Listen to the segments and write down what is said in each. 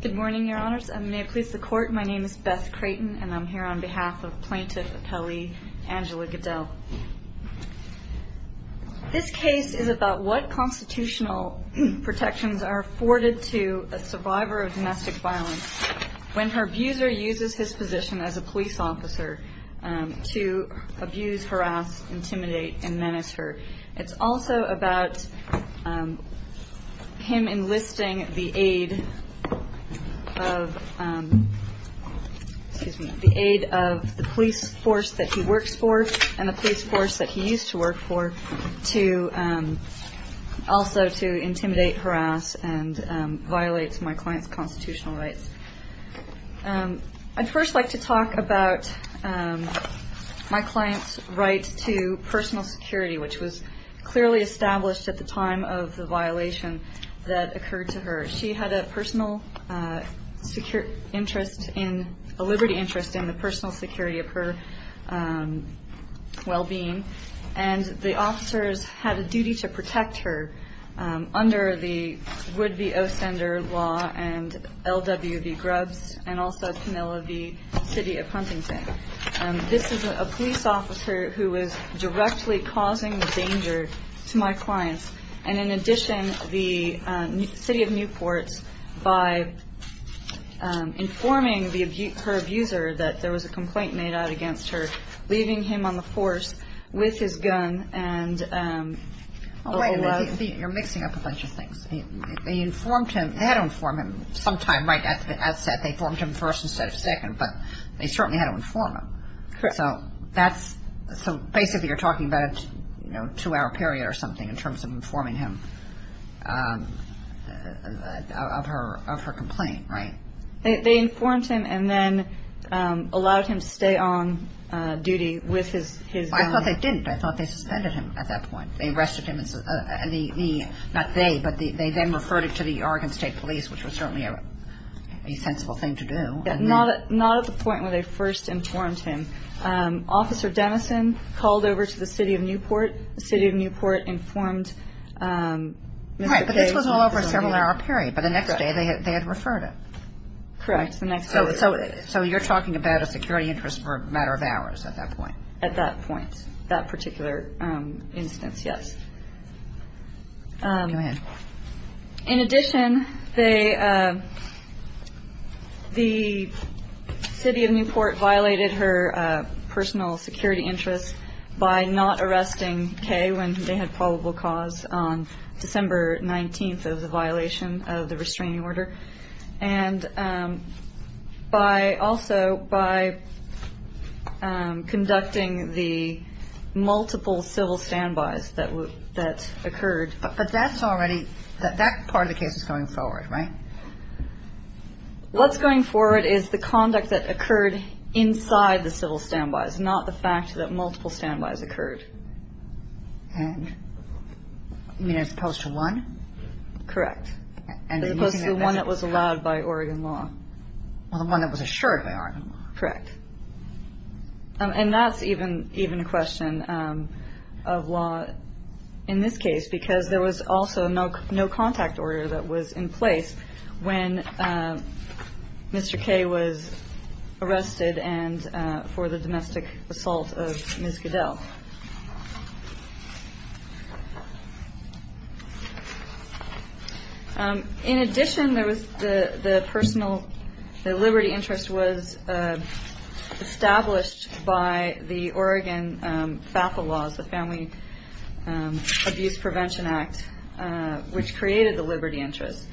Good morning, Your Honors, and may it please the Court, my name is Beth Creighton, and I'm here on behalf of Plaintiff Appellee Angela Goodell. This case is about what constitutional protections are afforded to a survivor of domestic violence when her abuser uses his position as a police officer to abuse, harass, intimidate, and menace her. It's also about him enlisting the aid of the police force that he works for and the police force that he used to work for also to intimidate, harass, and violate my client's constitutional rights. I'd first like to talk about my client's right to personal security, which was clearly established at the time of the violation that occurred to her. She had a personal security interest in, a liberty interest in the personal security of her well-being, and the officers had a duty to protect her under the Wood v. Ostender law and L.W. v. Grubbs, and also Camilla v. City of Huntington. This is a police officer who was directly causing danger to my clients, and in addition, the city of Newport, by informing her abuser that there was a complaint made out against her, leaving him on the force with his gun and all the love. You're mixing up a bunch of things. They informed him. They had to inform him sometime, right at the outset. They informed him first instead of second, but they certainly had to inform him. Correct. So that's so basically you're talking about a two-hour period or something in terms of informing him. Of her complaint, right? They informed him and then allowed him to stay on duty with his gun. I thought they didn't. I thought they suspended him at that point. They arrested him, not they, but they then referred him to the Oregon State Police, which was certainly a sensible thing to do. Not at the point where they first informed him. Officer Denison called over to the city of Newport. The city of Newport informed Mr. Page. Right, but this was all over a several-hour period, but the next day they had referred him. Correct, the next day. So you're talking about a security interest for a matter of hours at that point. At that point, that particular instance, yes. Go ahead. In addition, the city of Newport violated her personal security interests by not arresting Kay when they had probable cause on December 19th. That was a violation of the restraining order. And also by conducting the multiple civil standbys that occurred. But that's already, that part of the case is going forward, right? What's going forward is the conduct that occurred inside the civil standbys, not the fact that multiple standbys occurred. You mean as opposed to one? Correct. As opposed to the one that was allowed by Oregon law. Well, the one that was assured by Oregon law. Correct. And that's even a question of law in this case because there was also no contact order that was in place when Mr. Kay was arrested and for the domestic assault of Ms. Goodell. In addition, there was the personal, the liberty interest was established by the Oregon FAFSA laws, the Family Abuse Prevention Act, which created the liberty interest.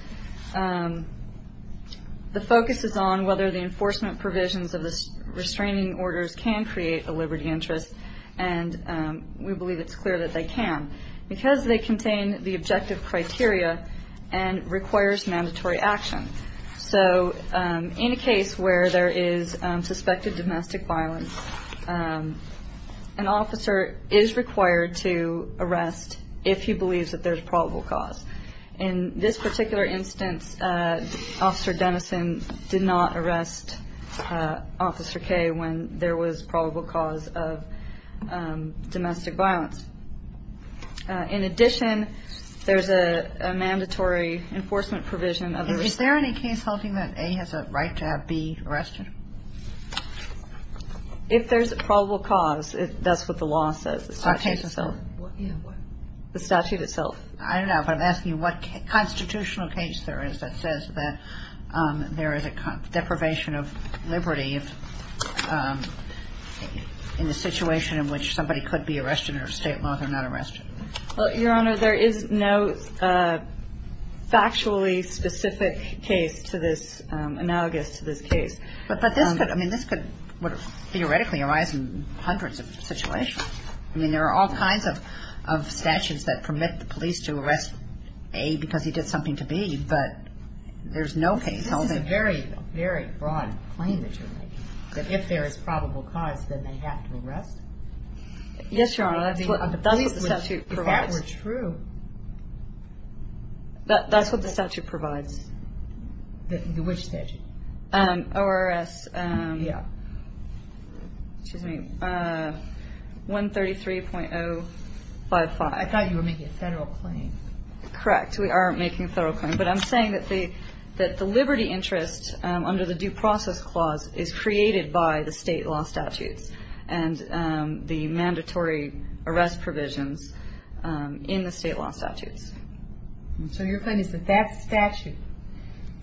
The focus is on whether the enforcement provisions of the restraining orders can create a liberty interest and we believe it's clear that they can because they contain the objective criteria and requires mandatory action. So in a case where there is suspected domestic violence, an officer is required to arrest if he believes that there's probable cause. In this particular instance, Officer Dennison did not arrest Officer Kay when there was probable cause of domestic violence. In addition, there's a mandatory enforcement provision. Is there any case holding that A has a right to have B arrested? If there's a probable cause, that's what the law says, the statute itself. The statute itself. I don't know, but I'm asking you what constitutional case there is that says that there is a deprivation of liberty in the situation in which somebody could be arrested under state law if they're not arrested. Well, Your Honor, there is no factually specific case to this, analogous to this case. But this could, I mean, this could theoretically arise in hundreds of situations. I mean, there are all kinds of statutes that permit the police to arrest A because he did something to B, but there's no case holding. This is a very, very broad claim that you're making, that if there is probable cause, then they have to arrest. Yes, Your Honor, that's what the statute provides. If that were true. That's what the statute provides. Which statute? ORS. Yeah. Excuse me. 133.055. I thought you were making a federal claim. Correct. We are making a federal claim. But I'm saying that the liberty interest under the Due Process Clause is created by the state law statutes and the mandatory arrest provisions in the state law statutes. So your claim is that that statute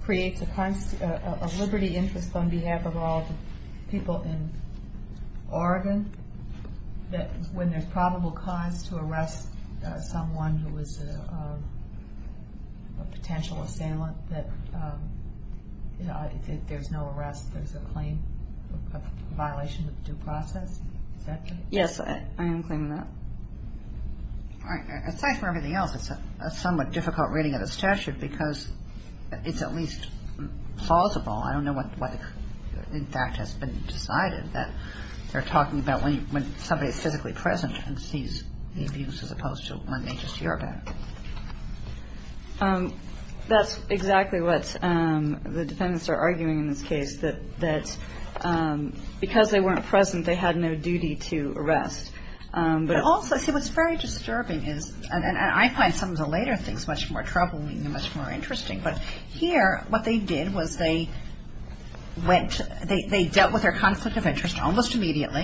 creates a liberty interest on behalf of all the people in Oregon, that when there's probable cause to arrest someone who is a potential assailant, that there's no arrest. There's a claim, a violation of due process. Is that correct? Yes, I am claiming that. All right. Aside from everything else, it's a somewhat difficult reading of the statute because it's at least plausible. I don't know what, in fact, has been decided, that they're talking about when somebody is physically present and sees the abuse as opposed to when they just hear about it. That's exactly what the defendants are arguing in this case, that because they weren't present, they had no duty to arrest. But also, see, what's very disturbing is, and I find some of the later things much more troubling and much more interesting, but here what they did was they went, they dealt with their conflict of interest almost immediately,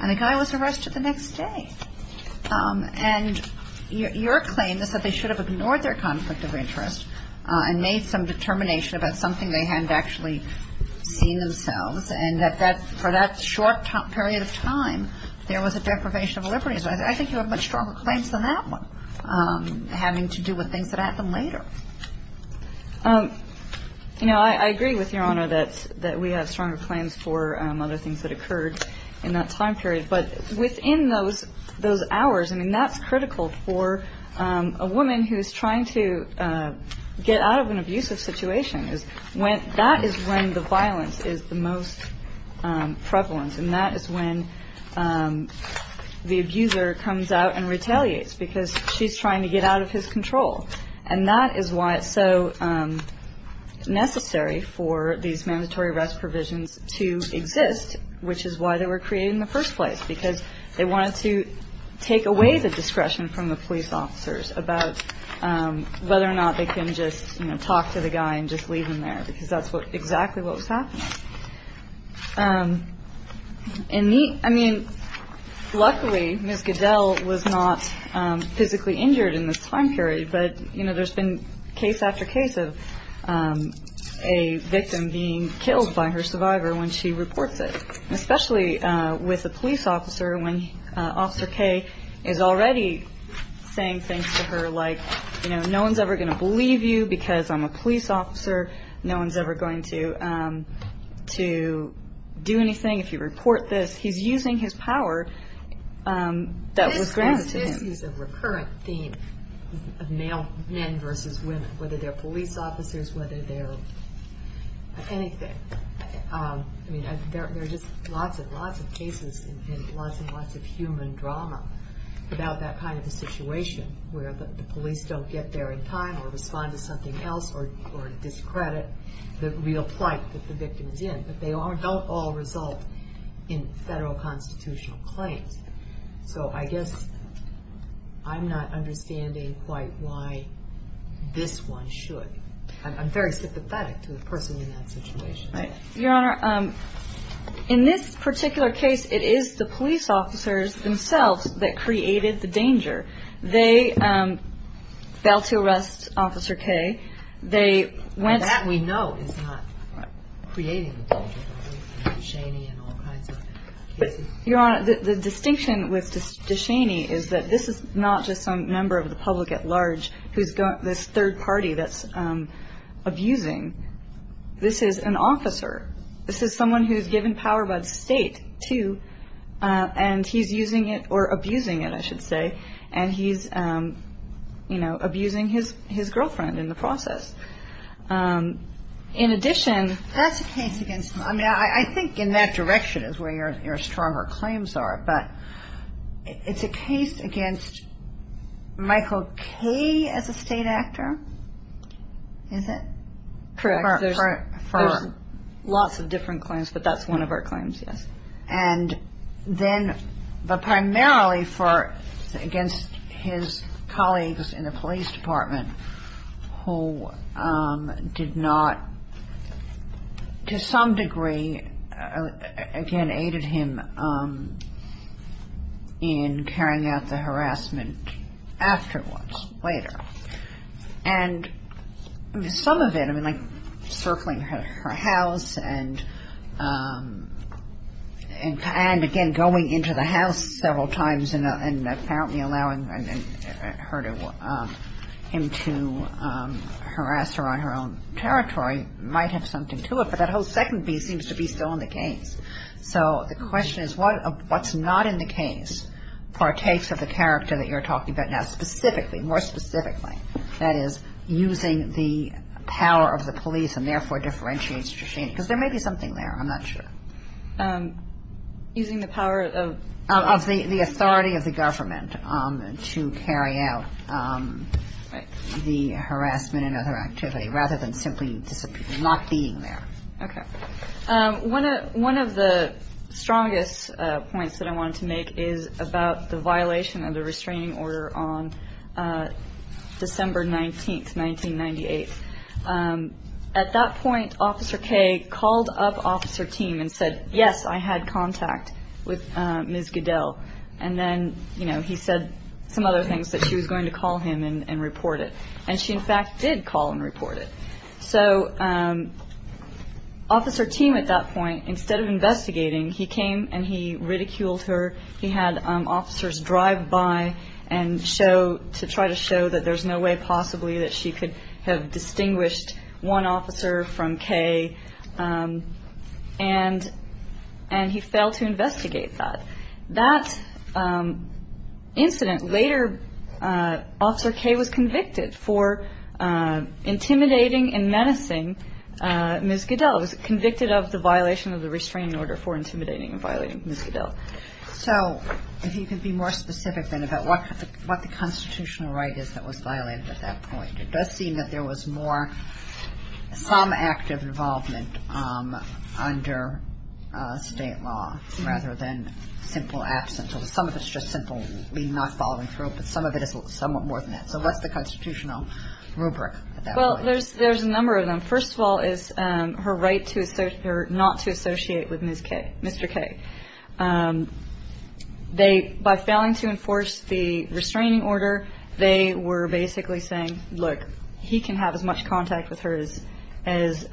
and the guy was arrested the next day. And your claim is that they should have ignored their conflict of interest and made some determination about something they hadn't actually seen themselves, and that for that short period of time, there was a deprivation of liberties. I think you have much stronger claims than that one, having to do with things that happened later. You know, I agree with Your Honor that we have stronger claims for other things that occurred in that time period. But within those hours, I mean, that's critical for a woman who's trying to get out of an abusive situation. That is when the violence is the most prevalent, and that is when the abuser comes out and retaliates because she's trying to get out of his control. And that is why it's so necessary for these mandatory arrest provisions to exist, which is why they were created in the first place, because they wanted to take away the discretion from the police officers about whether or not they can just talk to the guy and just leave him there, because that's exactly what was happening. I mean, luckily, Ms. Goodell was not physically injured in this time period, but there's been case after case of a victim being killed by her survivor when she reports it, especially with a police officer when Officer Kay is already saying things to her like, you know, no one's ever going to believe you because I'm a police officer. No one's ever going to do anything if you report this. He's using his power that was granted to him. This is a recurrent theme of male men versus women, whether they're police officers, whether they're anything. I mean, there are just lots and lots of cases and lots and lots of human drama about that kind of a situation where the police don't get there in time or respond to something else or discredit the real plight that the victim is in, but they don't all result in federal constitutional claims. So I guess I'm not understanding quite why this one should. I'm very sympathetic to the person in that situation. Right. Your Honor, in this particular case, it is the police officers themselves that created the danger. They failed to arrest Officer Kay. They went. That we know is not creating the danger. Duchenne and all kinds of cases. Your Honor, the distinction with Duchenne is that this is not just some member of the public at large who's got this third party that's abusing. This is an officer. This is someone who's given power by the state to, and he's using it or abusing it, I should say, and he's, you know, abusing his girlfriend in the process. In addition. That's a case against him. I mean, I think in that direction is where your stronger claims are, but it's a case against Michael Kay as a state actor, is it? Correct. There's lots of different claims, but that's one of our claims, yes. And then, but primarily for, against his colleagues in the police department who did not, to some degree, again, aided him in carrying out the harassment afterwards, later. And some of it, I mean, like circling her house and, again, going into the house several times and apparently allowing her to, him to harass her on her own territory might have something to it, but that whole second piece seems to be still in the case. So the question is what's not in the case partakes of the character that you're talking about now, specifically, more specifically, that is, using the power of the police and therefore differentiates the regime, because there may be something there. I'm not sure. Using the power of? Of the authority of the government to carry out the harassment and other activity, rather than simply not being there. Okay. One of the strongest points that I wanted to make is about the violation of the restraining order on December 19th, 1998. At that point, Officer Kaye called up Officer Thiem and said, yes, I had contact with Ms. Goodell. And then, you know, he said some other things, that she was going to call him and report it. And she, in fact, did call and report it. So Officer Thiem, at that point, instead of investigating, he came and he ridiculed her. He had officers drive by to try to show that there's no way possibly that she could have distinguished one officer from Kaye. And he failed to investigate that. That incident later, Officer Kaye was convicted for intimidating and menacing Ms. Goodell. He was convicted of the violation of the restraining order for intimidating and violating Ms. Goodell. So if you could be more specific then about what the constitutional right is that was violated at that point. It does seem that there was more, some active involvement under State law rather than simple absence. Some of it's just simply not following through, but some of it is somewhat more than that. So what's the constitutional rubric at that point? Well, there's a number of them. First of all is her right to not to associate with Ms. Kaye, Mr. Kaye. By failing to enforce the restraining order, they were basically saying, look, he can have as much contact with her as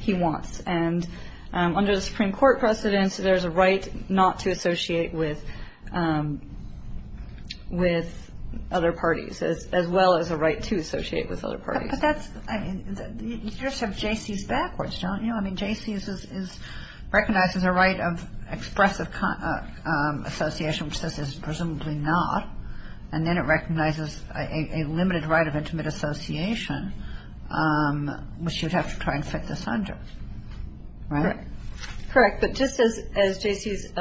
he wants. And under the Supreme Court precedence, there's a right not to associate with other parties as well as a right to associate with other parties. You just have J.C.'s backwards, don't you? I mean, J.C.'s is recognized as a right of expressive association, which this is presumably not. And then it recognizes a limited right of intimate association, which you'd have to try and fit this under. Right? Correct. But just as J.C.'s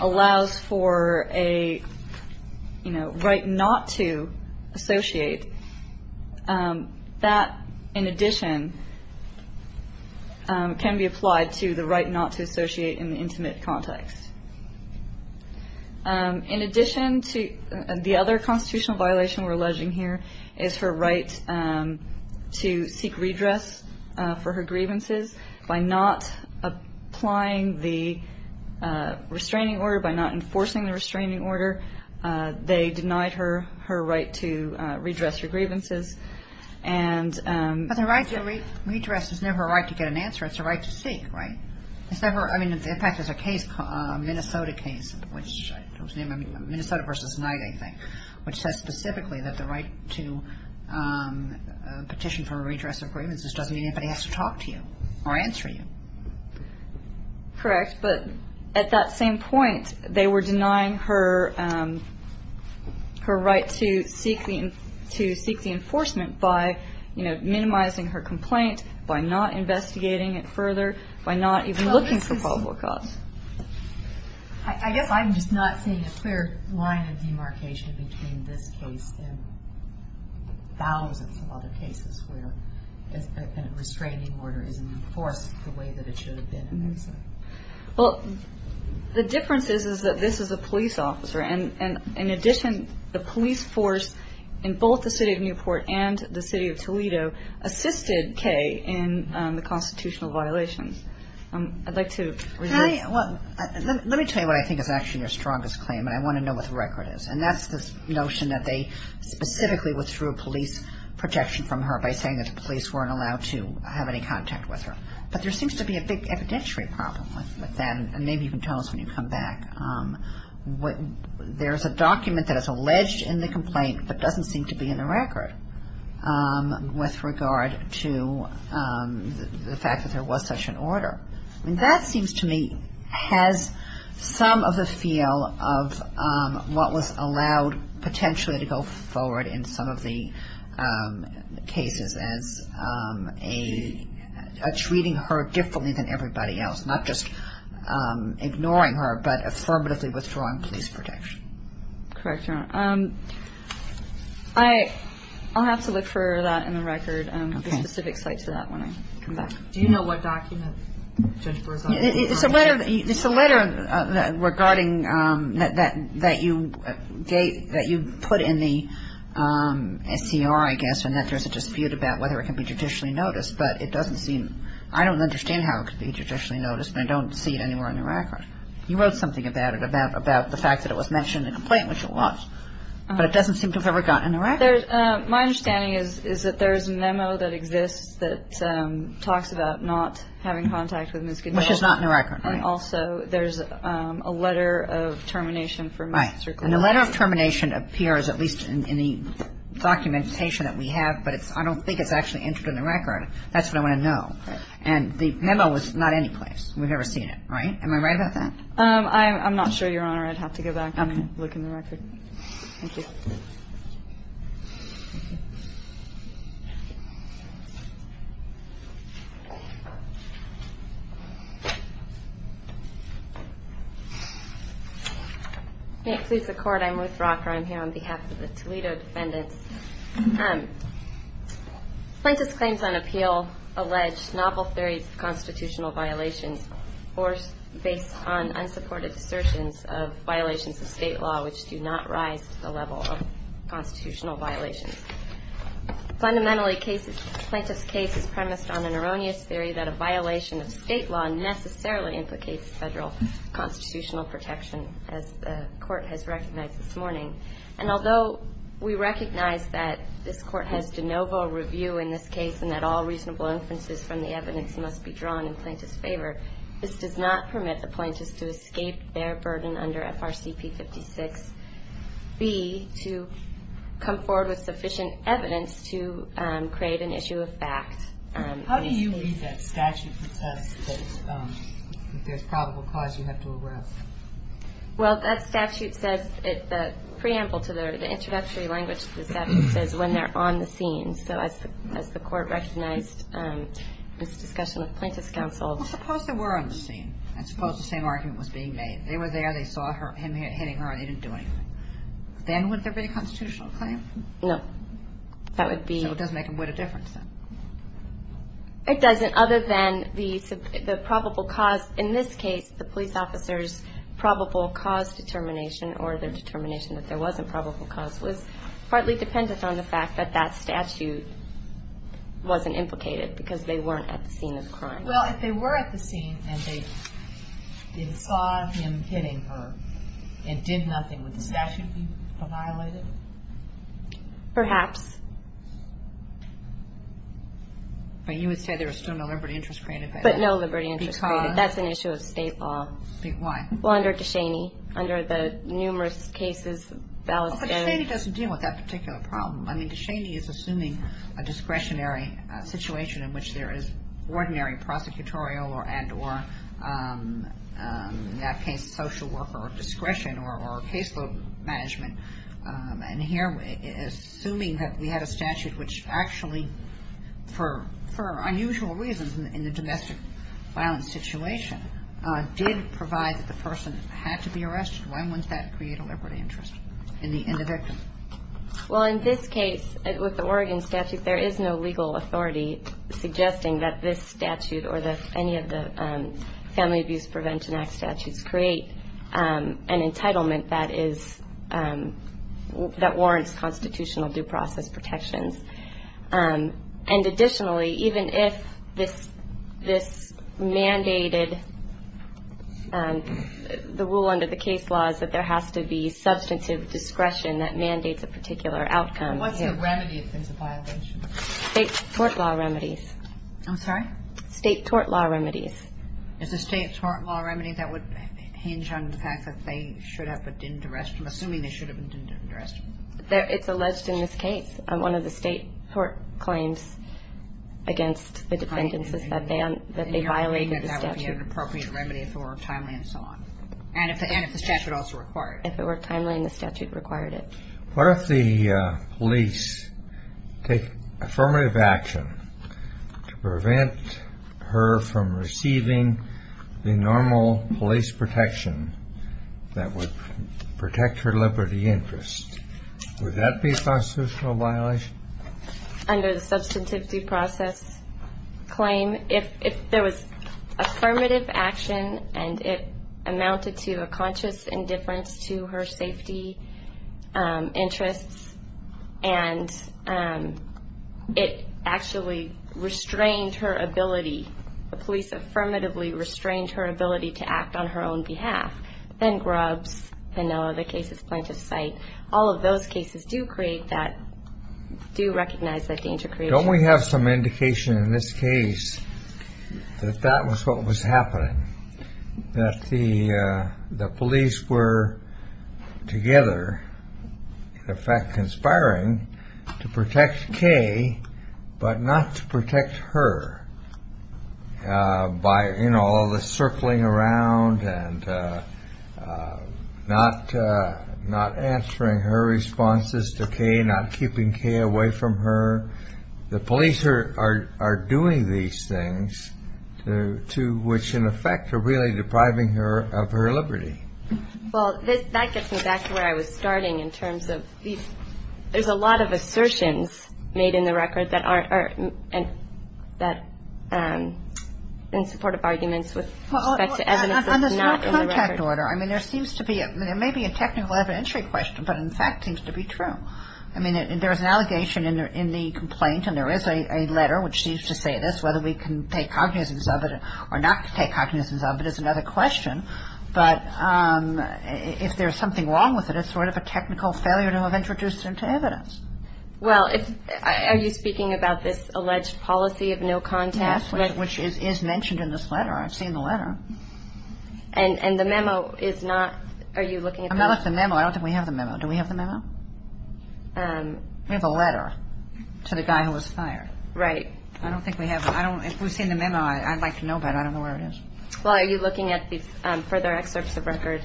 allows for a right not to associate, that in addition can be applied to the right not to associate in the intimate context. In addition to the other constitutional violation we're alleging here is her right to seek redress for her grievances. By not applying the restraining order, by not enforcing the restraining order, they denied her her right to redress her grievances. But the right to redress is never a right to get an answer. It's a right to seek, right? It's never. In fact, there's a case, a Minnesota case, which was named Minnesota v. Knight, I think, which says specifically that the right to petition for a redress of grievances doesn't mean anybody has to talk to you or answer you. Correct. But at that same point, they were denying her right to seek the enforcement by, you know, minimizing her complaint, by not investigating it further, by not even looking for probable cause. I guess I'm just not seeing a clear line of demarcation between this case and thousands of other cases where a restraining order isn't enforced the way that it should have been in Minnesota. Well, the difference is, is that this is a police officer. And in addition, the police force in both the city of Newport and the city of Toledo assisted Kaye in the constitutional violations. I'd like to reserve. Let me tell you what I think is actually your strongest claim, and I want to know what the record is. And that's this notion that they specifically withdrew police protection from her by saying that the police weren't allowed to have any contact with her. But there seems to be a big evidentiary problem with that. And maybe you can tell us when you come back. There's a document that is alleged in the complaint but doesn't seem to be in the record with regard to the fact that there was such an order. I mean, that seems to me has some of the feel of what was allowed potentially to go forward in some of the cases as treating her differently than everybody else, not just ignoring her, but affirmatively withdrawing police protection. Correct, Your Honor. I'll have to look for that in the record, the specific site to that when I come back. Do you know what document Judge Brewer's on? It's a letter regarding that you put in the SCR, I guess, and that there's a dispute about whether it can be judicially noticed. But it doesn't seem – I don't understand how it could be judicially noticed, and I don't see it anywhere in the record. You wrote something about it, about the fact that it was mentioned in the complaint, which it was. But it doesn't seem to have ever gotten in the record. My understanding is that there's a memo that exists that talks about not having contact with Ms. Goodman. Which is not in the record, right. And also there's a letter of termination for Ms. Zirkle. And the letter of termination appears at least in the documentation that we have, but I don't think it's actually entered in the record. That's what I want to know. And the memo was not anyplace. We've never seen it, right? Am I right about that? I'm not sure, Your Honor. I'd have to go back and look in the record. Thank you. Thank you. May it please the Court, I'm Ruth Rocker. I'm here on behalf of the Toledo defendants. Plaintiff's claims on appeal allege novel theories of constitutional violations based on unsupported assertions of violations of state law, which do not rise to the level of constitutional violations. Fundamentally, Plaintiff's case is premised on an erroneous theory that a violation of state law necessarily implicates federal constitutional protection, and although we recognize that this Court has de novo review in this case and that all reasonable inferences from the evidence must be drawn in Plaintiff's favor, this does not permit the plaintiffs to escape their burden under FRCP 56B to come forward with sufficient evidence to create an issue of fact. How do you read that statute that says that there's probable cause you have to arrest? Well, that statute says, the preamble to the introductory language of the statute says when they're on the scene. So as the Court recognized this discussion with Plaintiff's counsel. Well, suppose they were on the scene, and suppose the same argument was being made. They were there. They saw him hitting her, and they didn't do anything. Then would there be a constitutional claim? No. That would be. So it doesn't make a wider difference, then. It doesn't, other than the probable cause. In this case, the police officer's probable cause determination, or their determination that there wasn't probable cause, was partly dependent on the fact that that statute wasn't implicated because they weren't at the scene of the crime. Well, if they were at the scene, and they saw him hitting her and did nothing, would the statute be violated? Perhaps. But you would say there was still no liberty interest created? But no liberty interest created. That's an issue of State law. Why? Well, under Descheny, under the numerous cases that was done. But Descheny doesn't deal with that particular problem. I mean, Descheny is assuming a discretionary situation in which there is ordinary prosecutorial and or, in that case, social worker discretion or caseload management. And here, assuming that we had a statute which actually, for unusual reasons, in the domestic violence situation, did provide that the person had to be arrested, why wouldn't that create a liberty interest in the victim? Well, in this case, with the Oregon statute, there is no legal authority suggesting that this statute or any of the Family Abuse Prevention Act statutes create an entitlement that is – that warrants constitutional due process protections. And additionally, even if this mandated – the rule under the case law is that there has to be substantive discretion that mandates a particular outcome. What's the remedy if there's a violation? State tort law remedies. I'm sorry? State tort law remedies. Is the state tort law remedy that would hinge on the fact that they should have but didn't arrest him, assuming they should have but didn't arrest him? It's alleged in this case. One of the state tort claims against the defendants is that they violated the statute. And you're saying that that would be an appropriate remedy if it were timely and so on. And if the statute also required it. If it were timely and the statute required it. What if the police take affirmative action to prevent her from receiving the normal police protection that would protect her liberty interest? Would that be a constitutional violation? Under the substantive due process claim, if there was affirmative action and it amounted to a conscious indifference to her safety interests and it actually restrained her ability, the police affirmatively restrained her ability to act on her own behalf, then Grubbs, then the other cases, plaintiff's site, all of those cases do create that, do recognize that danger creation. Don't we have some indication in this case that that was what was happening? That the police were together, in effect conspiring, to protect Kay, but not to protect her by, you know, all the circling around and not answering her responses to Kay, not keeping Kay away from her. The police are doing these things to which, in effect, are really depriving her of her liberty. Well, that gets me back to where I was starting in terms of these. There's a lot of assertions made in the record that aren't or that in support of arguments with respect to evidence that's not in the record. Well, on the direct contact order, I mean, there seems to be a – I mean, there's an allegation in the complaint and there is a letter which seems to say this, whether we can take cognizance of it or not take cognizance of it is another question, but if there's something wrong with it, it's sort of a technical failure to have introduced it into evidence. Well, are you speaking about this alleged policy of no contact? Yes, which is mentioned in this letter. I've seen the letter. And the memo is not – are you looking at the – I'm not looking at the memo. I don't think we have the memo. Do we have the memo? We have a letter to the guy who was fired. Right. I don't think we have – if we've seen the memo, I'd like to know about it. I don't know where it is. Well, are you looking at the further excerpts of record?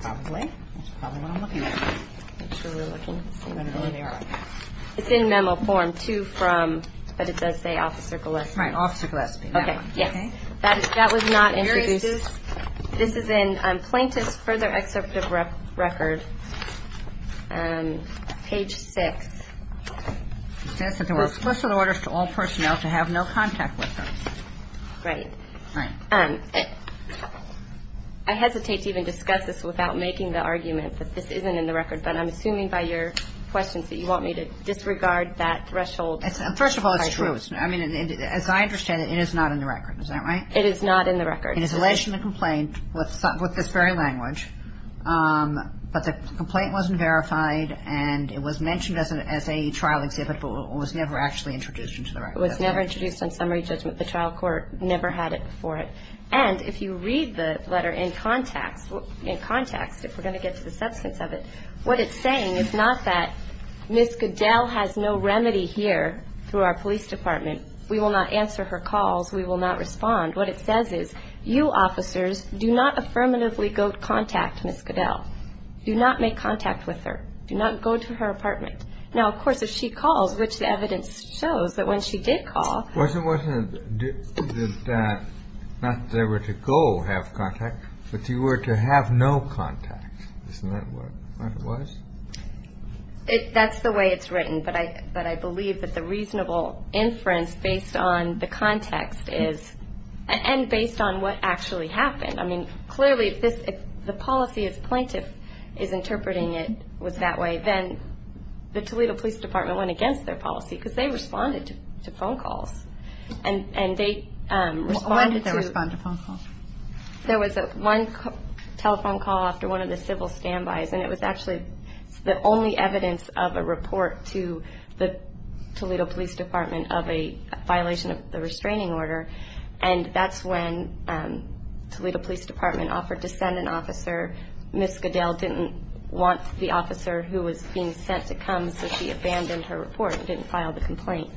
Probably. That's probably what I'm looking at. Make sure we're looking. I don't know where they are. It's in memo form, too, from – but it does say Officer Gillespie. Right, Officer Gillespie. Okay, yes. That was not introduced. This is in plaintiff's further excerpt of record, page 6. It says that there were special orders to all personnel to have no contact with them. Right. Right. I hesitate to even discuss this without making the argument that this isn't in the record, but I'm assuming by your questions that you want me to disregard that threshold. First of all, it's true. I mean, as I understand it, it is not in the record. Is that right? It is not in the record. It is alleged in the complaint with this very language, but the complaint wasn't verified and it was mentioned as a trial exhibit but was never actually introduced into the record. It was never introduced on summary judgment. The trial court never had it before. And if you read the letter in context, if we're going to get to the substance of it, what it's saying is not that Ms. Goodell has no remedy here through our police department. We will not answer her calls. We will not respond. What it says is you officers do not affirmatively go to contact Ms. Goodell. Do not make contact with her. Do not go to her apartment. Now, of course, if she calls, which the evidence shows that when she did call. Wasn't it that not that they were to go have contact, but you were to have no contact. Isn't that what it was? That's the way it's written. But I believe that the reasonable inference based on the context is and based on what actually happened. I mean, clearly, if the policy as plaintiff is interpreting it was that way, then the Toledo Police Department went against their policy because they responded to phone calls. And they responded to. When did they respond to phone calls? There was one telephone call after one of the civil standbys, and it was actually the only evidence of a report to the Toledo Police Department of a violation of the restraining order. And that's when Toledo Police Department offered to send an officer. Ms. Goodell didn't want the officer who was being sent to come. So she abandoned her report and didn't file the complaint.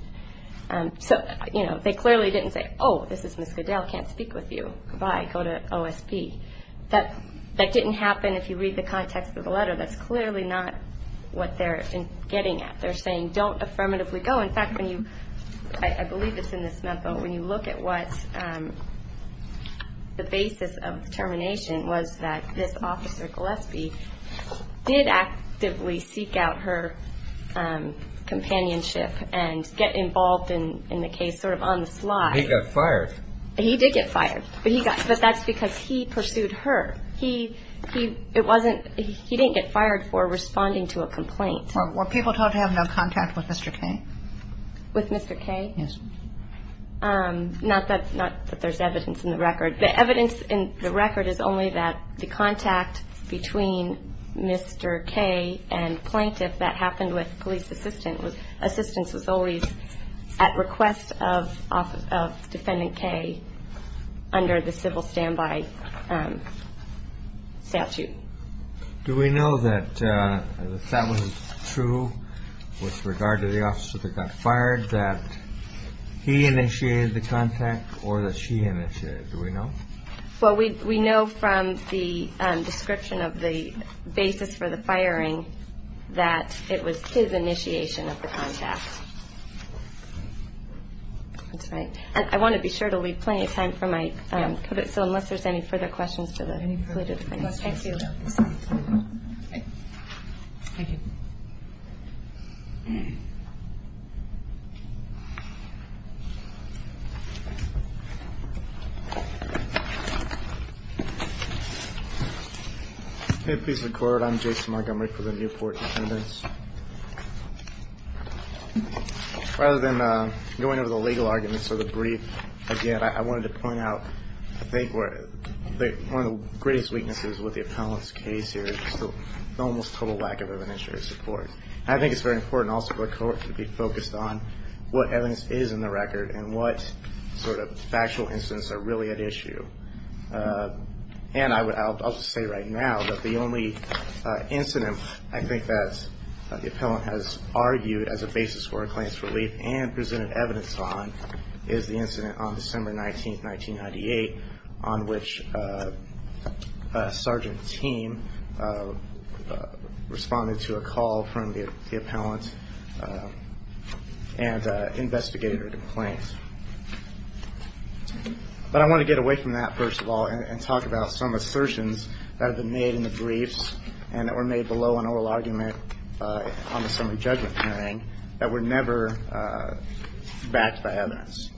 So, you know, they clearly didn't say, oh, this is Ms. Goodell. Can't speak with you. Goodbye. Go to OSP. That didn't happen if you read the context of the letter. That's clearly not what they're getting at. They're saying don't affirmatively go. In fact, I believe it's in this memo. When you look at what the basis of termination was that this officer, Gillespie, did actively seek out her companionship and get involved in the case sort of on the sly. He got fired. He did get fired. But that's because he pursued her. He didn't get fired for responding to a complaint. Were people told to have no contact with Mr. Kaye? With Mr. Kaye? Yes. Not that there's evidence in the record. The evidence in the record is only that the contact between Mr. Kaye and plaintiff that happened with police assistant. Assistance was always at request of defendant Kaye under the civil standby statute. Do we know that that was true with regard to the officer that got fired, that he initiated the contact or that she initiated it? Do we know? Well, we know from the description of the basis for the firing that it was his initiation of the contact. That's right. And I want to be sure to leave plenty of time for my, so unless there's any further questions. Thank you. Please record. I'm Jason Montgomery for the Newport. Rather than going over the legal arguments or the brief, again, I wanted to point out, I think, one of the greatest weaknesses with the appellant's case here is almost total lack of evidence or support. I think it's very important also for the court to be focused on what evidence is in the record and what sort of factual incidents are really at issue. And I'll just say right now that the only incident, I think, that the appellant has argued as a basis for a claimant's relief and presented evidence on is the incident on December 19th, 1998, on which a sergeant team responded to a call from the appellant and investigated her complaint. But I want to get away from that, first of all, and talk about some assertions that have been made in the briefs and that were made below an oral argument on the summary judgment hearing that were never backed by evidence.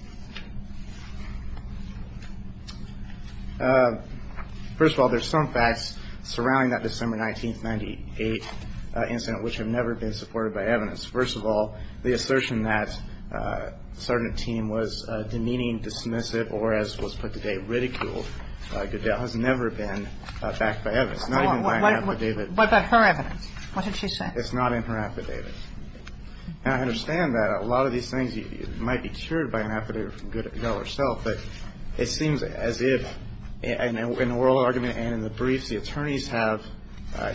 First of all, there's some facts surrounding that December 19th, 1998 incident, which have never been supported by evidence. First of all, the assertion that the sergeant team was demeaning, dismissive, or as was put today, ridiculed Goodell has never been backed by evidence, not even by an affidavit. What about her evidence? What did she say? It's not in her affidavit. And I understand that a lot of these things might be cured by an affidavit from Goodell herself, but it seems as if in an oral argument and in the briefs, the attorneys have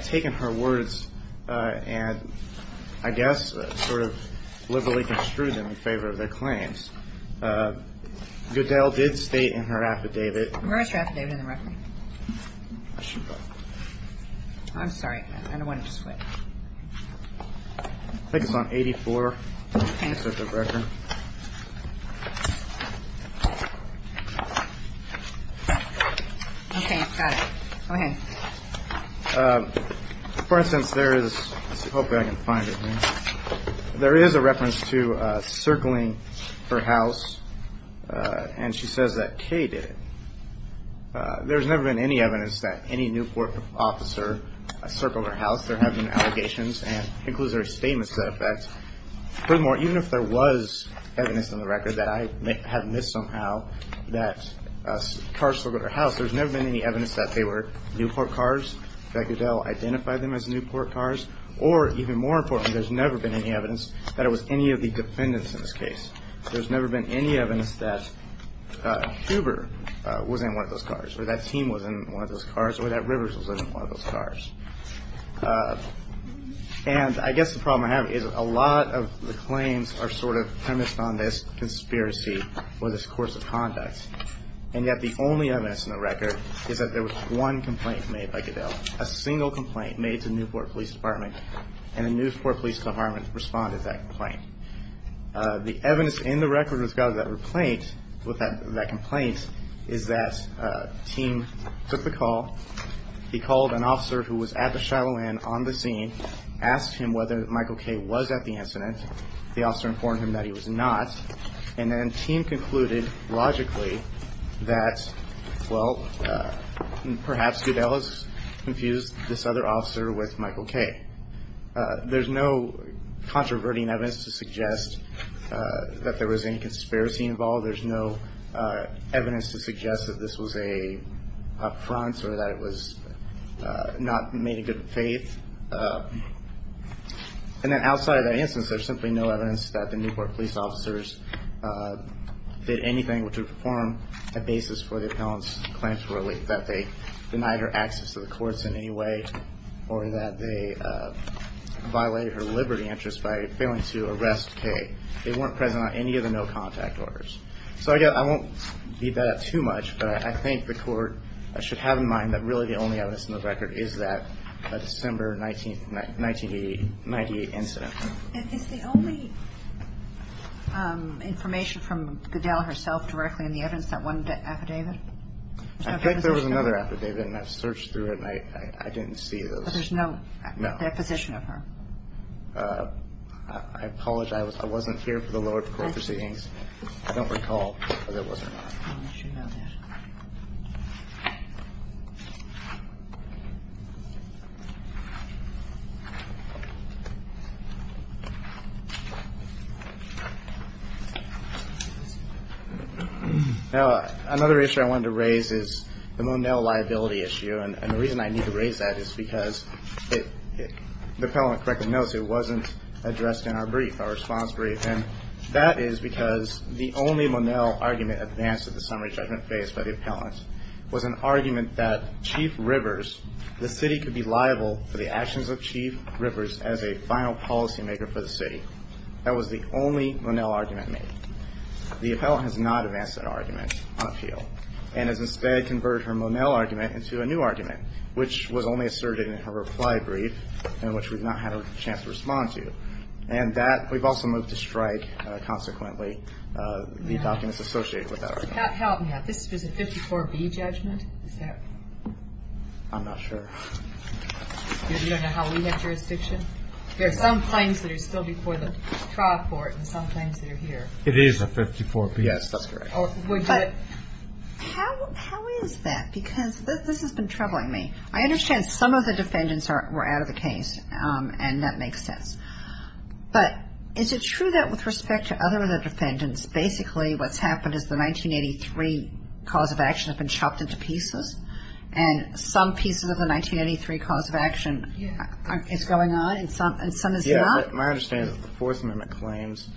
taken her words and, I guess, sort of liberally construed them in favor of their claims. Goodell did state in her affidavit. Where is her affidavit in the record? I'm sorry. I don't want to just flip. I think it's on 84. For instance, there is, hopefully I can find it here. There is a reference to circling her house, and she says that Kay did it. There's never been any evidence that any Newport officer circled her house. There have been allegations, and it includes her statement to that effect. Furthermore, even if there was evidence in the record that I have missed somehow that cars circled her house, there's never been any evidence that they were Newport cars, that Goodell identified them as Newport cars, or even more importantly, there's never been any evidence that it was any of the defendants in this case. There's never been any evidence that Huber was in one of those cars, or that team was in one of those cars, or that Rivers was in one of those cars. And I guess the problem I have is a lot of the claims are sort of premised on this conspiracy or this course of conduct, and yet the only evidence in the record is that there was one complaint made by Goodell, a single complaint made to the Newport Police Department, and the Newport Police Department responded to that complaint. The evidence in the record with regard to that complaint is that team took the call. He called an officer who was at the Shiloh Inn on the scene, asked him whether Michael Kay was at the incident. The officer informed him that he was not, and then team concluded logically that, well, perhaps Goodell has confused this other officer with Michael Kay. There's no controverting evidence to suggest that there was any conspiracy involved. There's no evidence to suggest that this was an up front or that it was not made in good faith. And then outside of that instance, there's simply no evidence that the Newport police officers did anything to form a basis for the appellant's claims to relate, that they denied her access to the courts in any way, or that they violated her liberty interest by failing to arrest Kay. They weren't present on any of the no contact orders. So, again, I won't beat that up too much, but I think the court should have in mind that really the only evidence in the record is that December 1988 incident. Is the only information from Goodell herself directly in the evidence that one affidavit? I think there was another affidavit, and I've searched through it, and I didn't see those. But there's no deposition of her? I apologize. I wasn't here for the lower court proceedings. I don't recall whether it was or not. Now, another issue I wanted to raise is the Monell liability issue. And the reason I need to raise that is because the appellant correctly knows it wasn't addressed in our brief, our response brief. And that is because the only Monell argument advanced at the summary judgment phase by the appellant was an argument that Chief Rivers, the city could be liable for the actions of Chief Rivers as a final policymaker for the city. That was the only Monell argument made. The appellant has not advanced that argument on appeal and has instead converted her Monell argument into a new argument, which was only asserted in her reply brief and which we've not had a chance to respond to. And that we've also moved to strike. Consequently, the documents associated with that argument. This was a 54B judgment? I'm not sure. You don't know how we had jurisdiction? There are some claims that are still before the trial court and some claims that are here. It is a 54B. Yes, that's correct. But how is that? Because this has been troubling me. I understand some of the defendants were out of the case, and that makes sense. But is it true that with respect to other defendants, basically what's happened is the 1983 cause of action has been chopped into pieces? And some pieces of the 1983 cause of action is going on and some is not? My understanding is that the Fourth Amendment claims,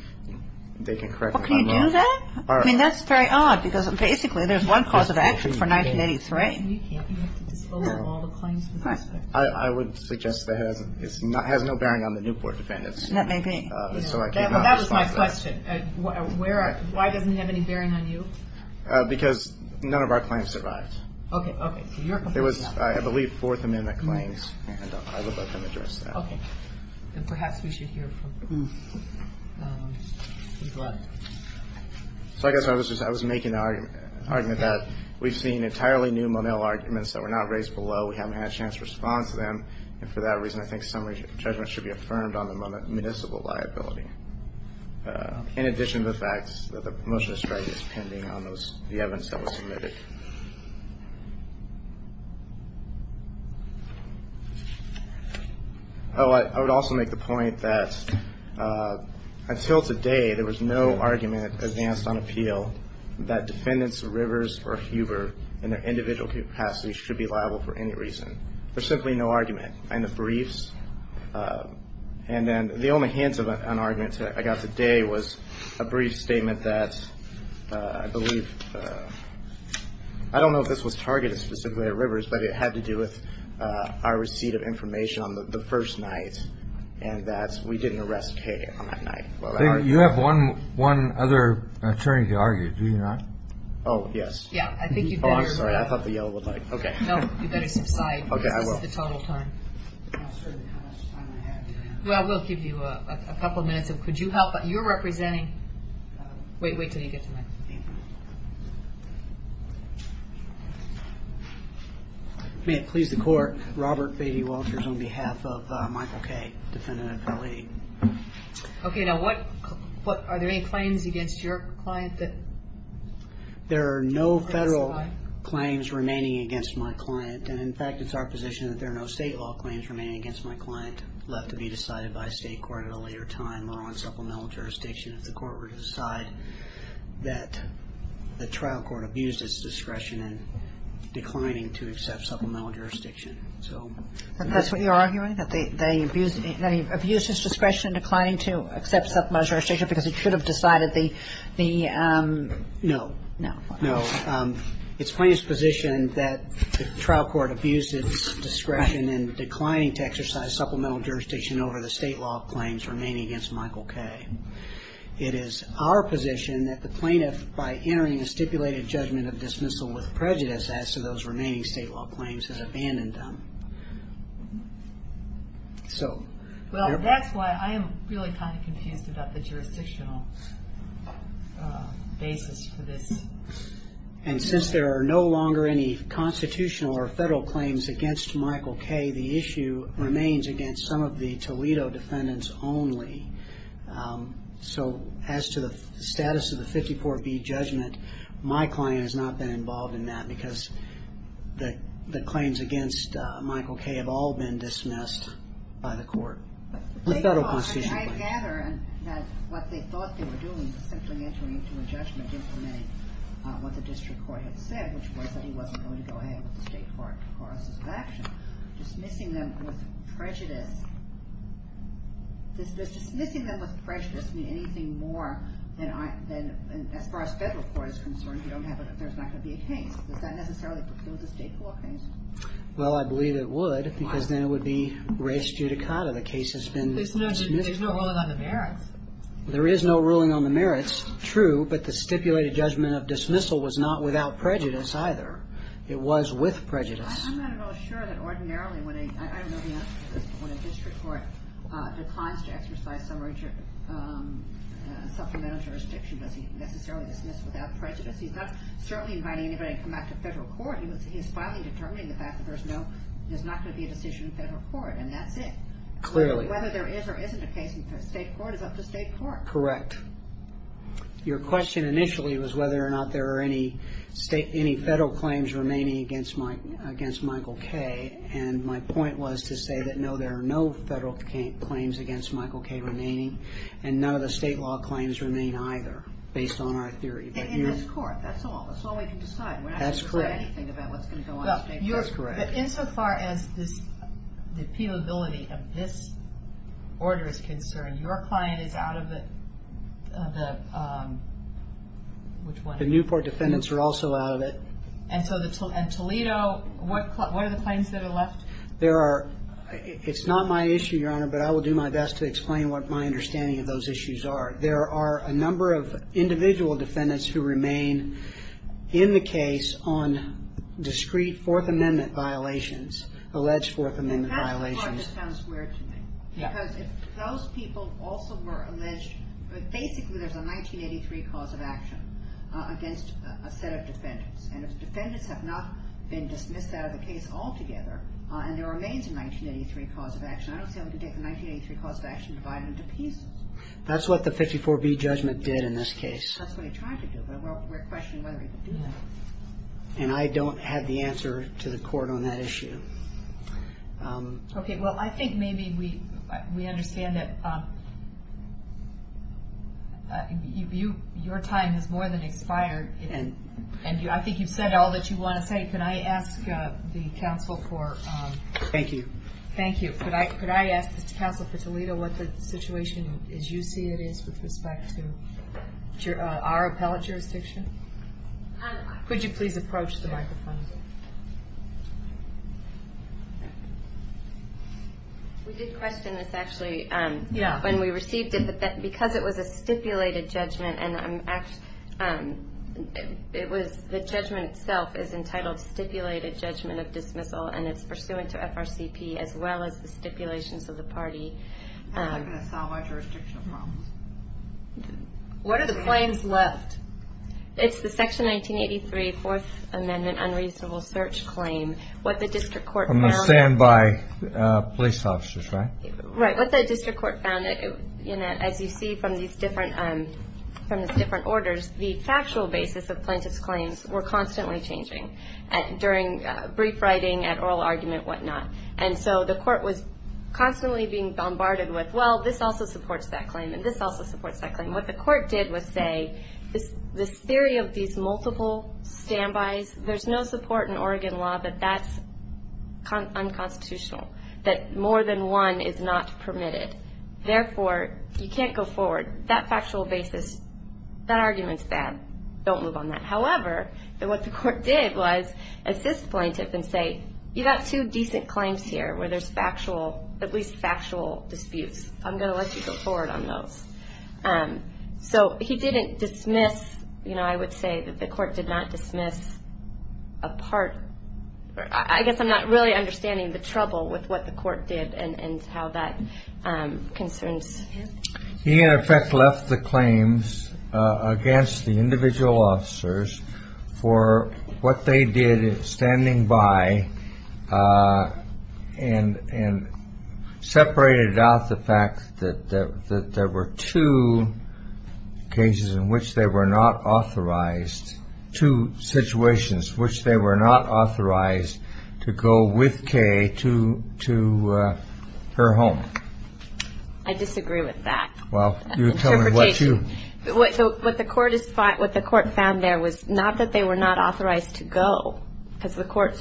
they can correct them by law. Well, can you do that? I mean, that's very odd because basically there's one cause of action for 1983. You can't. You have to disclose all the claims. I would suggest that it has no bearing on the Newport defendants. That may be. That was my question. Why doesn't it have any bearing on you? Because none of our claims survived. Okay, okay. It was, I believe, Fourth Amendment claims, and I would let them address that. Okay. And perhaps we should hear from who's left. So I guess I was making the argument that we've seen entirely new Monell arguments that were not raised below. We haven't had a chance to respond to them. And for that reason, I think summary judgment should be affirmed on the municipal liability, in addition to the fact that the promotional strategy is pending on the evidence that was submitted. I would also make the point that until today, there was no argument advanced on appeal that defendants of Rivers or Huber in their individual capacities should be liable for any reason. There's simply no argument. And the briefs. And then the only hints of an argument I got today was a brief statement that I believe, I don't know if this was targeted specifically at Rivers, but it had to do with our receipt of information on the first night, and that we didn't arrest Kaye on that night. You have one other attorney to argue, do you not? Oh, yes. Yeah, I think you better. Oh, I'm sorry. I thought the yellow would like. Okay. You better subside. Okay, I will. This is the total time. I'm not sure how much time I have. Well, we'll give you a couple of minutes. Could you help? You're representing. Wait, wait until you get to me. Thank you. May it please the court, Robert Beatty Walters on behalf of Michael Kaye, defendant of L.A. Okay, now what, are there any claims against your client that? There are no federal claims remaining against my client, and in fact it's our position that there are no state law claims remaining against my client left to be decided by state court at a later time or on supplemental jurisdiction if the court were to decide that the trial court abused its discretion in declining to accept supplemental jurisdiction. So. That's what you're arguing, that they abused its discretion in declining to accept supplemental jurisdiction because it should have decided the. No. No. It's plaintiff's position that the trial court abused its discretion in declining to exercise supplemental jurisdiction over the state law claims remaining against Michael Kaye. It is our position that the plaintiff, by entering a stipulated judgment of dismissal with prejudice, as to those remaining state law claims, has abandoned them. So. Well, that's why I am really kind of confused about the jurisdictional basis for this. And since there are no longer any constitutional or federal claims against Michael Kaye, the issue remains against some of the Toledo defendants only. So as to the status of the 54B judgment, my client has not been involved in that because the claims against Michael Kaye have all been dismissed by the court. The federal constitution claims. I gather that what they thought they were doing was simply entering into a judgment implementing what the district court had said, which was that he wasn't going to go ahead with the state court process of action. Dismissing them with prejudice. Does dismissing them with prejudice mean anything more than, as far as federal court is concerned, there's not going to be a case. Does that necessarily fulfill the state court case? Well, I believe it would because then it would be res judicata. The case has been dismissed. There's no ruling on the merits. There is no ruling on the merits. True. But the stipulated judgment of dismissal was not without prejudice either. It was with prejudice. I'm not at all sure that ordinarily when a district court declines to exercise supplemental jurisdiction, does he necessarily dismiss without prejudice? He's not certainly inviting anybody to come back to federal court. He's finally determining the fact that there's not going to be a decision in federal court, and that's it. Clearly. Whether there is or isn't a case in state court is up to state court. Correct. Your question initially was whether or not there are any federal claims remaining against Michael Kaye, and my point was to say that no, there are no federal claims against Michael Kaye remaining, and none of the state law claims remain either based on our theory. In this court, that's all. That's all we can decide. That's correct. We're not going to say anything about what's going to go on in state court. That's correct. Insofar as the appealability of this order is concerned, your client is out of the, which one? The Newport defendants are also out of it. And Toledo, what are the claims that are left? It's not my issue, Your Honor, but I will do my best to explain what my understanding of those issues are. There are a number of individual defendants who remain in the case on discrete Fourth Amendment violations, alleged Fourth Amendment violations. That part just sounds weird to me. Yeah. Because if those people also were alleged, basically there's a 1983 cause of action against a set of defendants, and if defendants have not been dismissed out of the case altogether, and there remains a 1983 cause of action, I don't see how we can get the 1983 cause of action divided into pieces. That's what the 54B judgment did in this case. That's what he tried to do, but we're questioning whether he could do that. And I don't have the answer to the court on that issue. Okay. Well, I think maybe we understand that your time has more than expired, and I think you've said all that you want to say. Could I ask the counsel for...? Thank you. Thank you. Could I ask the counsel for Toledo what the situation, as you see it, is with respect to our appellate jurisdiction? Could you please approach the microphone? We did question this, actually. Yeah. When we received it, because it was a stipulated judgment, the judgment itself is entitled stipulated judgment of dismissal, and it's pursuant to FRCP as well as the stipulations of the party. That's not going to solve our jurisdictional problems. What are the claims left? It's the Section 1983 Fourth Amendment unreasonable search claim. What the district court found...? I'm going to stand by police officers, right? Right. What the district court found, as you see from these different orders, the factual basis of plaintiff's claims were constantly changing. During brief writing, at oral argument, whatnot. And so the court was constantly being bombarded with, well, this also supports that claim, and this also supports that claim. What the court did was say, this theory of these multiple standbys, there's no support in Oregon law that that's unconstitutional, that more than one is not permitted. Therefore, you can't go forward. That factual basis, that argument's bad. Don't move on that. However, what the court did was assist plaintiff and say, you've got two decent claims here where there's at least factual disputes. I'm going to let you go forward on those. So he didn't dismiss, you know, I would say that the court did not dismiss a part. I guess I'm not really understanding the trouble with what the court did and how that concerns him. He, in effect, left the claims against the individual officers for what they did standing by and separated out the fact that there were two cases in which they were not authorized, two situations in which they were not authorized to go with Kay to her home. I disagree with that. Well, you tell me what you. What the court found there was not that they were not authorized to go because the court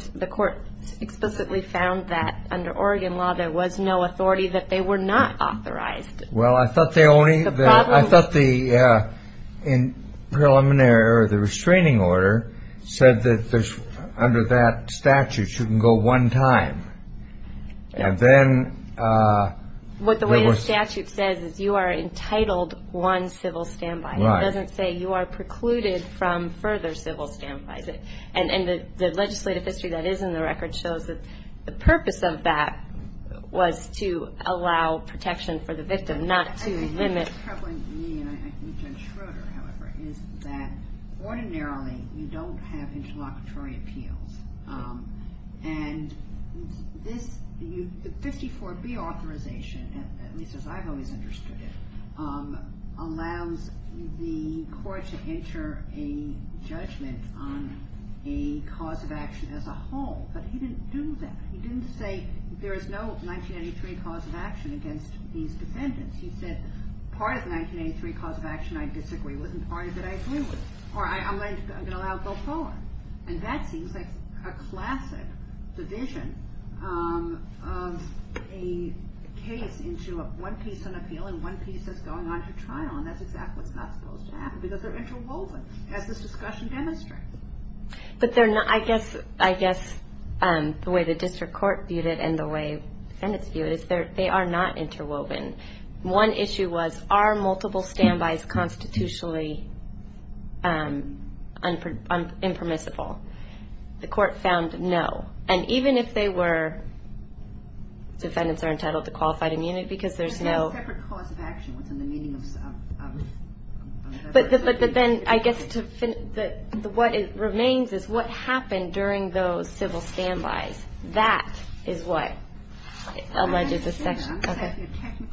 explicitly found that under Oregon law, there was no authority that they were not authorized. Well, I thought the preliminary or the restraining order said that under that statute, you can go one time. And then there was. What the way the statute says is you are entitled one civil standby. Right. It doesn't say you are precluded from further civil standby. And the legislative history that is in the record shows that the purpose of that was to allow protection for the victim, not to limit. The thing that's troubling me, and I think Judge Schroeder, however, is that ordinarily you don't have interlocutory appeals. And this 54B authorization, at least as I've always understood it, allows the court to enter a judgment on a cause of action as a whole. But he didn't do that. He didn't say there is no 1983 cause of action against these defendants. He said part of the 1983 cause of action I disagree with and part of it I agree with, or I'm going to allow it to go forward. And that seems like a classic division of a case into one piece on appeal and one piece that's going on to trial, and that's exactly what's not supposed to happen because they're interwoven, as this discussion demonstrates. But I guess the way the district court viewed it and the way defendants view it is they are not interwoven. One issue was are multiple standbys constitutionally impermissible? The court found no. And even if they were, defendants are entitled to qualified immunity because there's no... But then I guess what remains is what happened during those civil standbys. That is what alleges this section.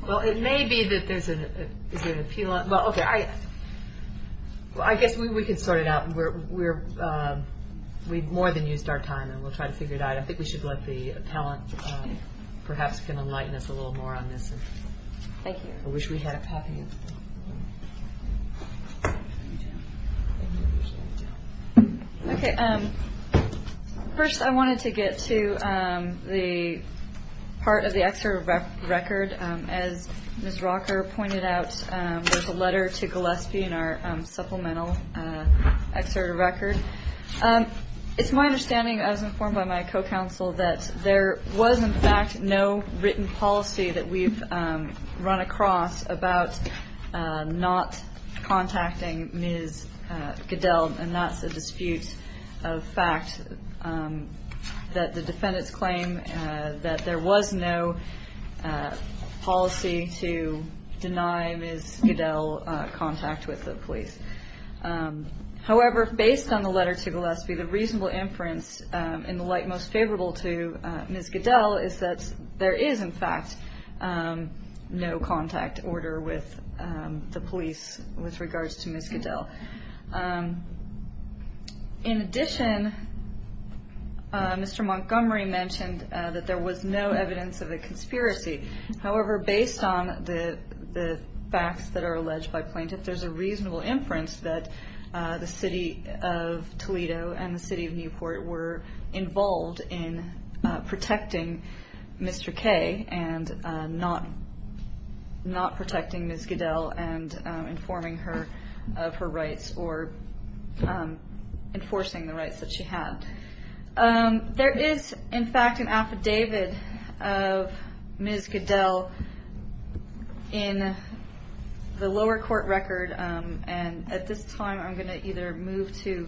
Well, it may be that there's an appeal... Well, okay, I guess we can sort it out. We've more than used our time, and we'll try to figure it out. I think we should let the appellant perhaps enlighten us a little more on this. Thank you. I wish we had a copy. Okay. First, I wanted to get to the part of the excerpt of record. As Ms. Rocker pointed out, there's a letter to Gillespie in our supplemental excerpt of record. It's my understanding, as informed by my co-counsel, that there was, in fact, no written policy that we've run across about not contacting Ms. Goodell, and that's a dispute of fact that the defendants claim that there was no policy to deny Ms. Goodell contact with the police. However, based on the letter to Gillespie, the reasonable inference, in the light most favorable to Ms. Goodell, is that there is, in fact, no contact order with the police with regards to Ms. Goodell. In addition, Mr. Montgomery mentioned that there was no evidence of a conspiracy. However, based on the facts that are alleged by plaintiffs, there's a reasonable inference that the city of Toledo and the city of Newport were involved in protecting Mr. Kay and not protecting Ms. Goodell and informing her of her rights or enforcing the rights that she had. There is, in fact, an affidavit of Ms. Goodell in the lower court record, and at this time I'm going to either move to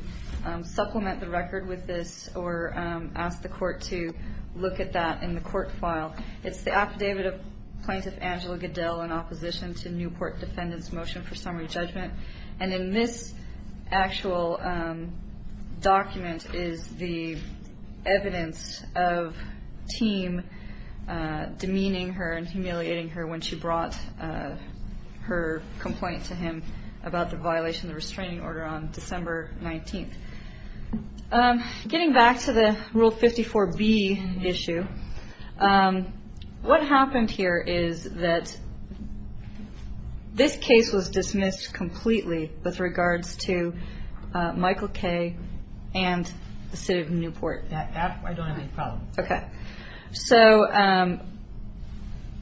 supplement the record with this or ask the court to look at that in the court file. It's the Affidavit of Plaintiff Angela Goodell in Opposition to Newport Defendant's Motion for Summary Judgment, and in this actual document is the evidence of Thiem demeaning her and humiliating her when she brought her complaint to him about the violation of the restraining order on December 19th. Getting back to the Rule 54B issue, what happened here is that this case was dismissed completely with regards to Michael Kay and the city of Newport. I don't have any problem. Okay. So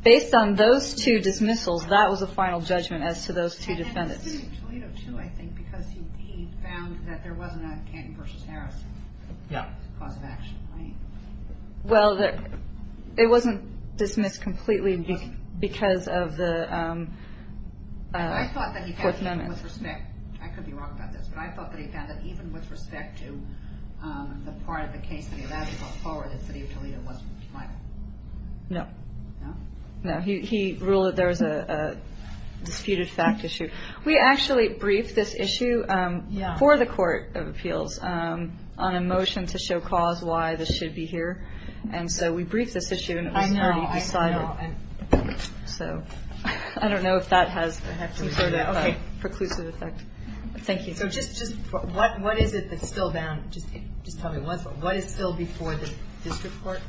based on those two dismissals, that was a final judgment as to those two defendants. It was the city of Toledo, too, I think, because he found that there wasn't a Canton v. Harris cause of action, right? Well, it wasn't dismissed completely because of the Fourth Amendment. I could be wrong about this, but I thought that he found that even with respect to the part of the case that he allowed to go forward, that the city of Toledo wasn't Michael. No. No? No. He ruled that there was a disputed fact issue. We actually briefed this issue before the Court of Appeals on a motion to show cause why this should be here. And so we briefed this issue, and it was already decided. I know. I know. So I don't know if that has sort of a preclusive effect. Thank you. So just what is it that's still bound? Just tell me, what is still before the district court?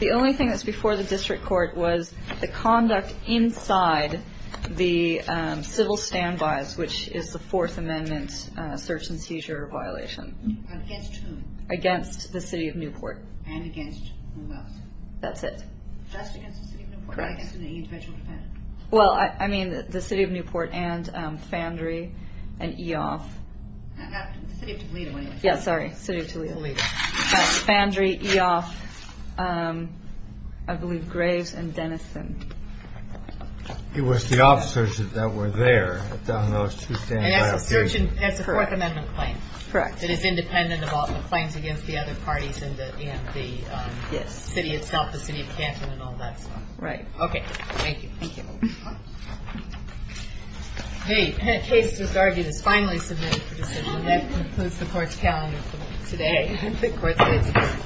The only thing that's before the district court was the conduct inside the civil standbys, which is the Fourth Amendment search and seizure violation. Against whom? Against the city of Newport. And against who else? That's it. Just against the city of Newport? Correct. Against an individual defendant? Well, I mean the city of Newport and Fandry and Eoff. The city of Toledo, anyway. Yeah, sorry. The city of Toledo. Toledo. Fandry, Eoff, I believe Graves and Dennison. It was the officers that were there that done those two standbys. And that's a search and that's a Fourth Amendment claim. Correct. That is independent of all the claims against the other parties and the city itself, the city of Canton and all that stuff. Right. Okay. Thank you. Thank you. Okay. Case with argument is finally submitted for decision. That concludes the Court's calendar for today. The Court is adjourned.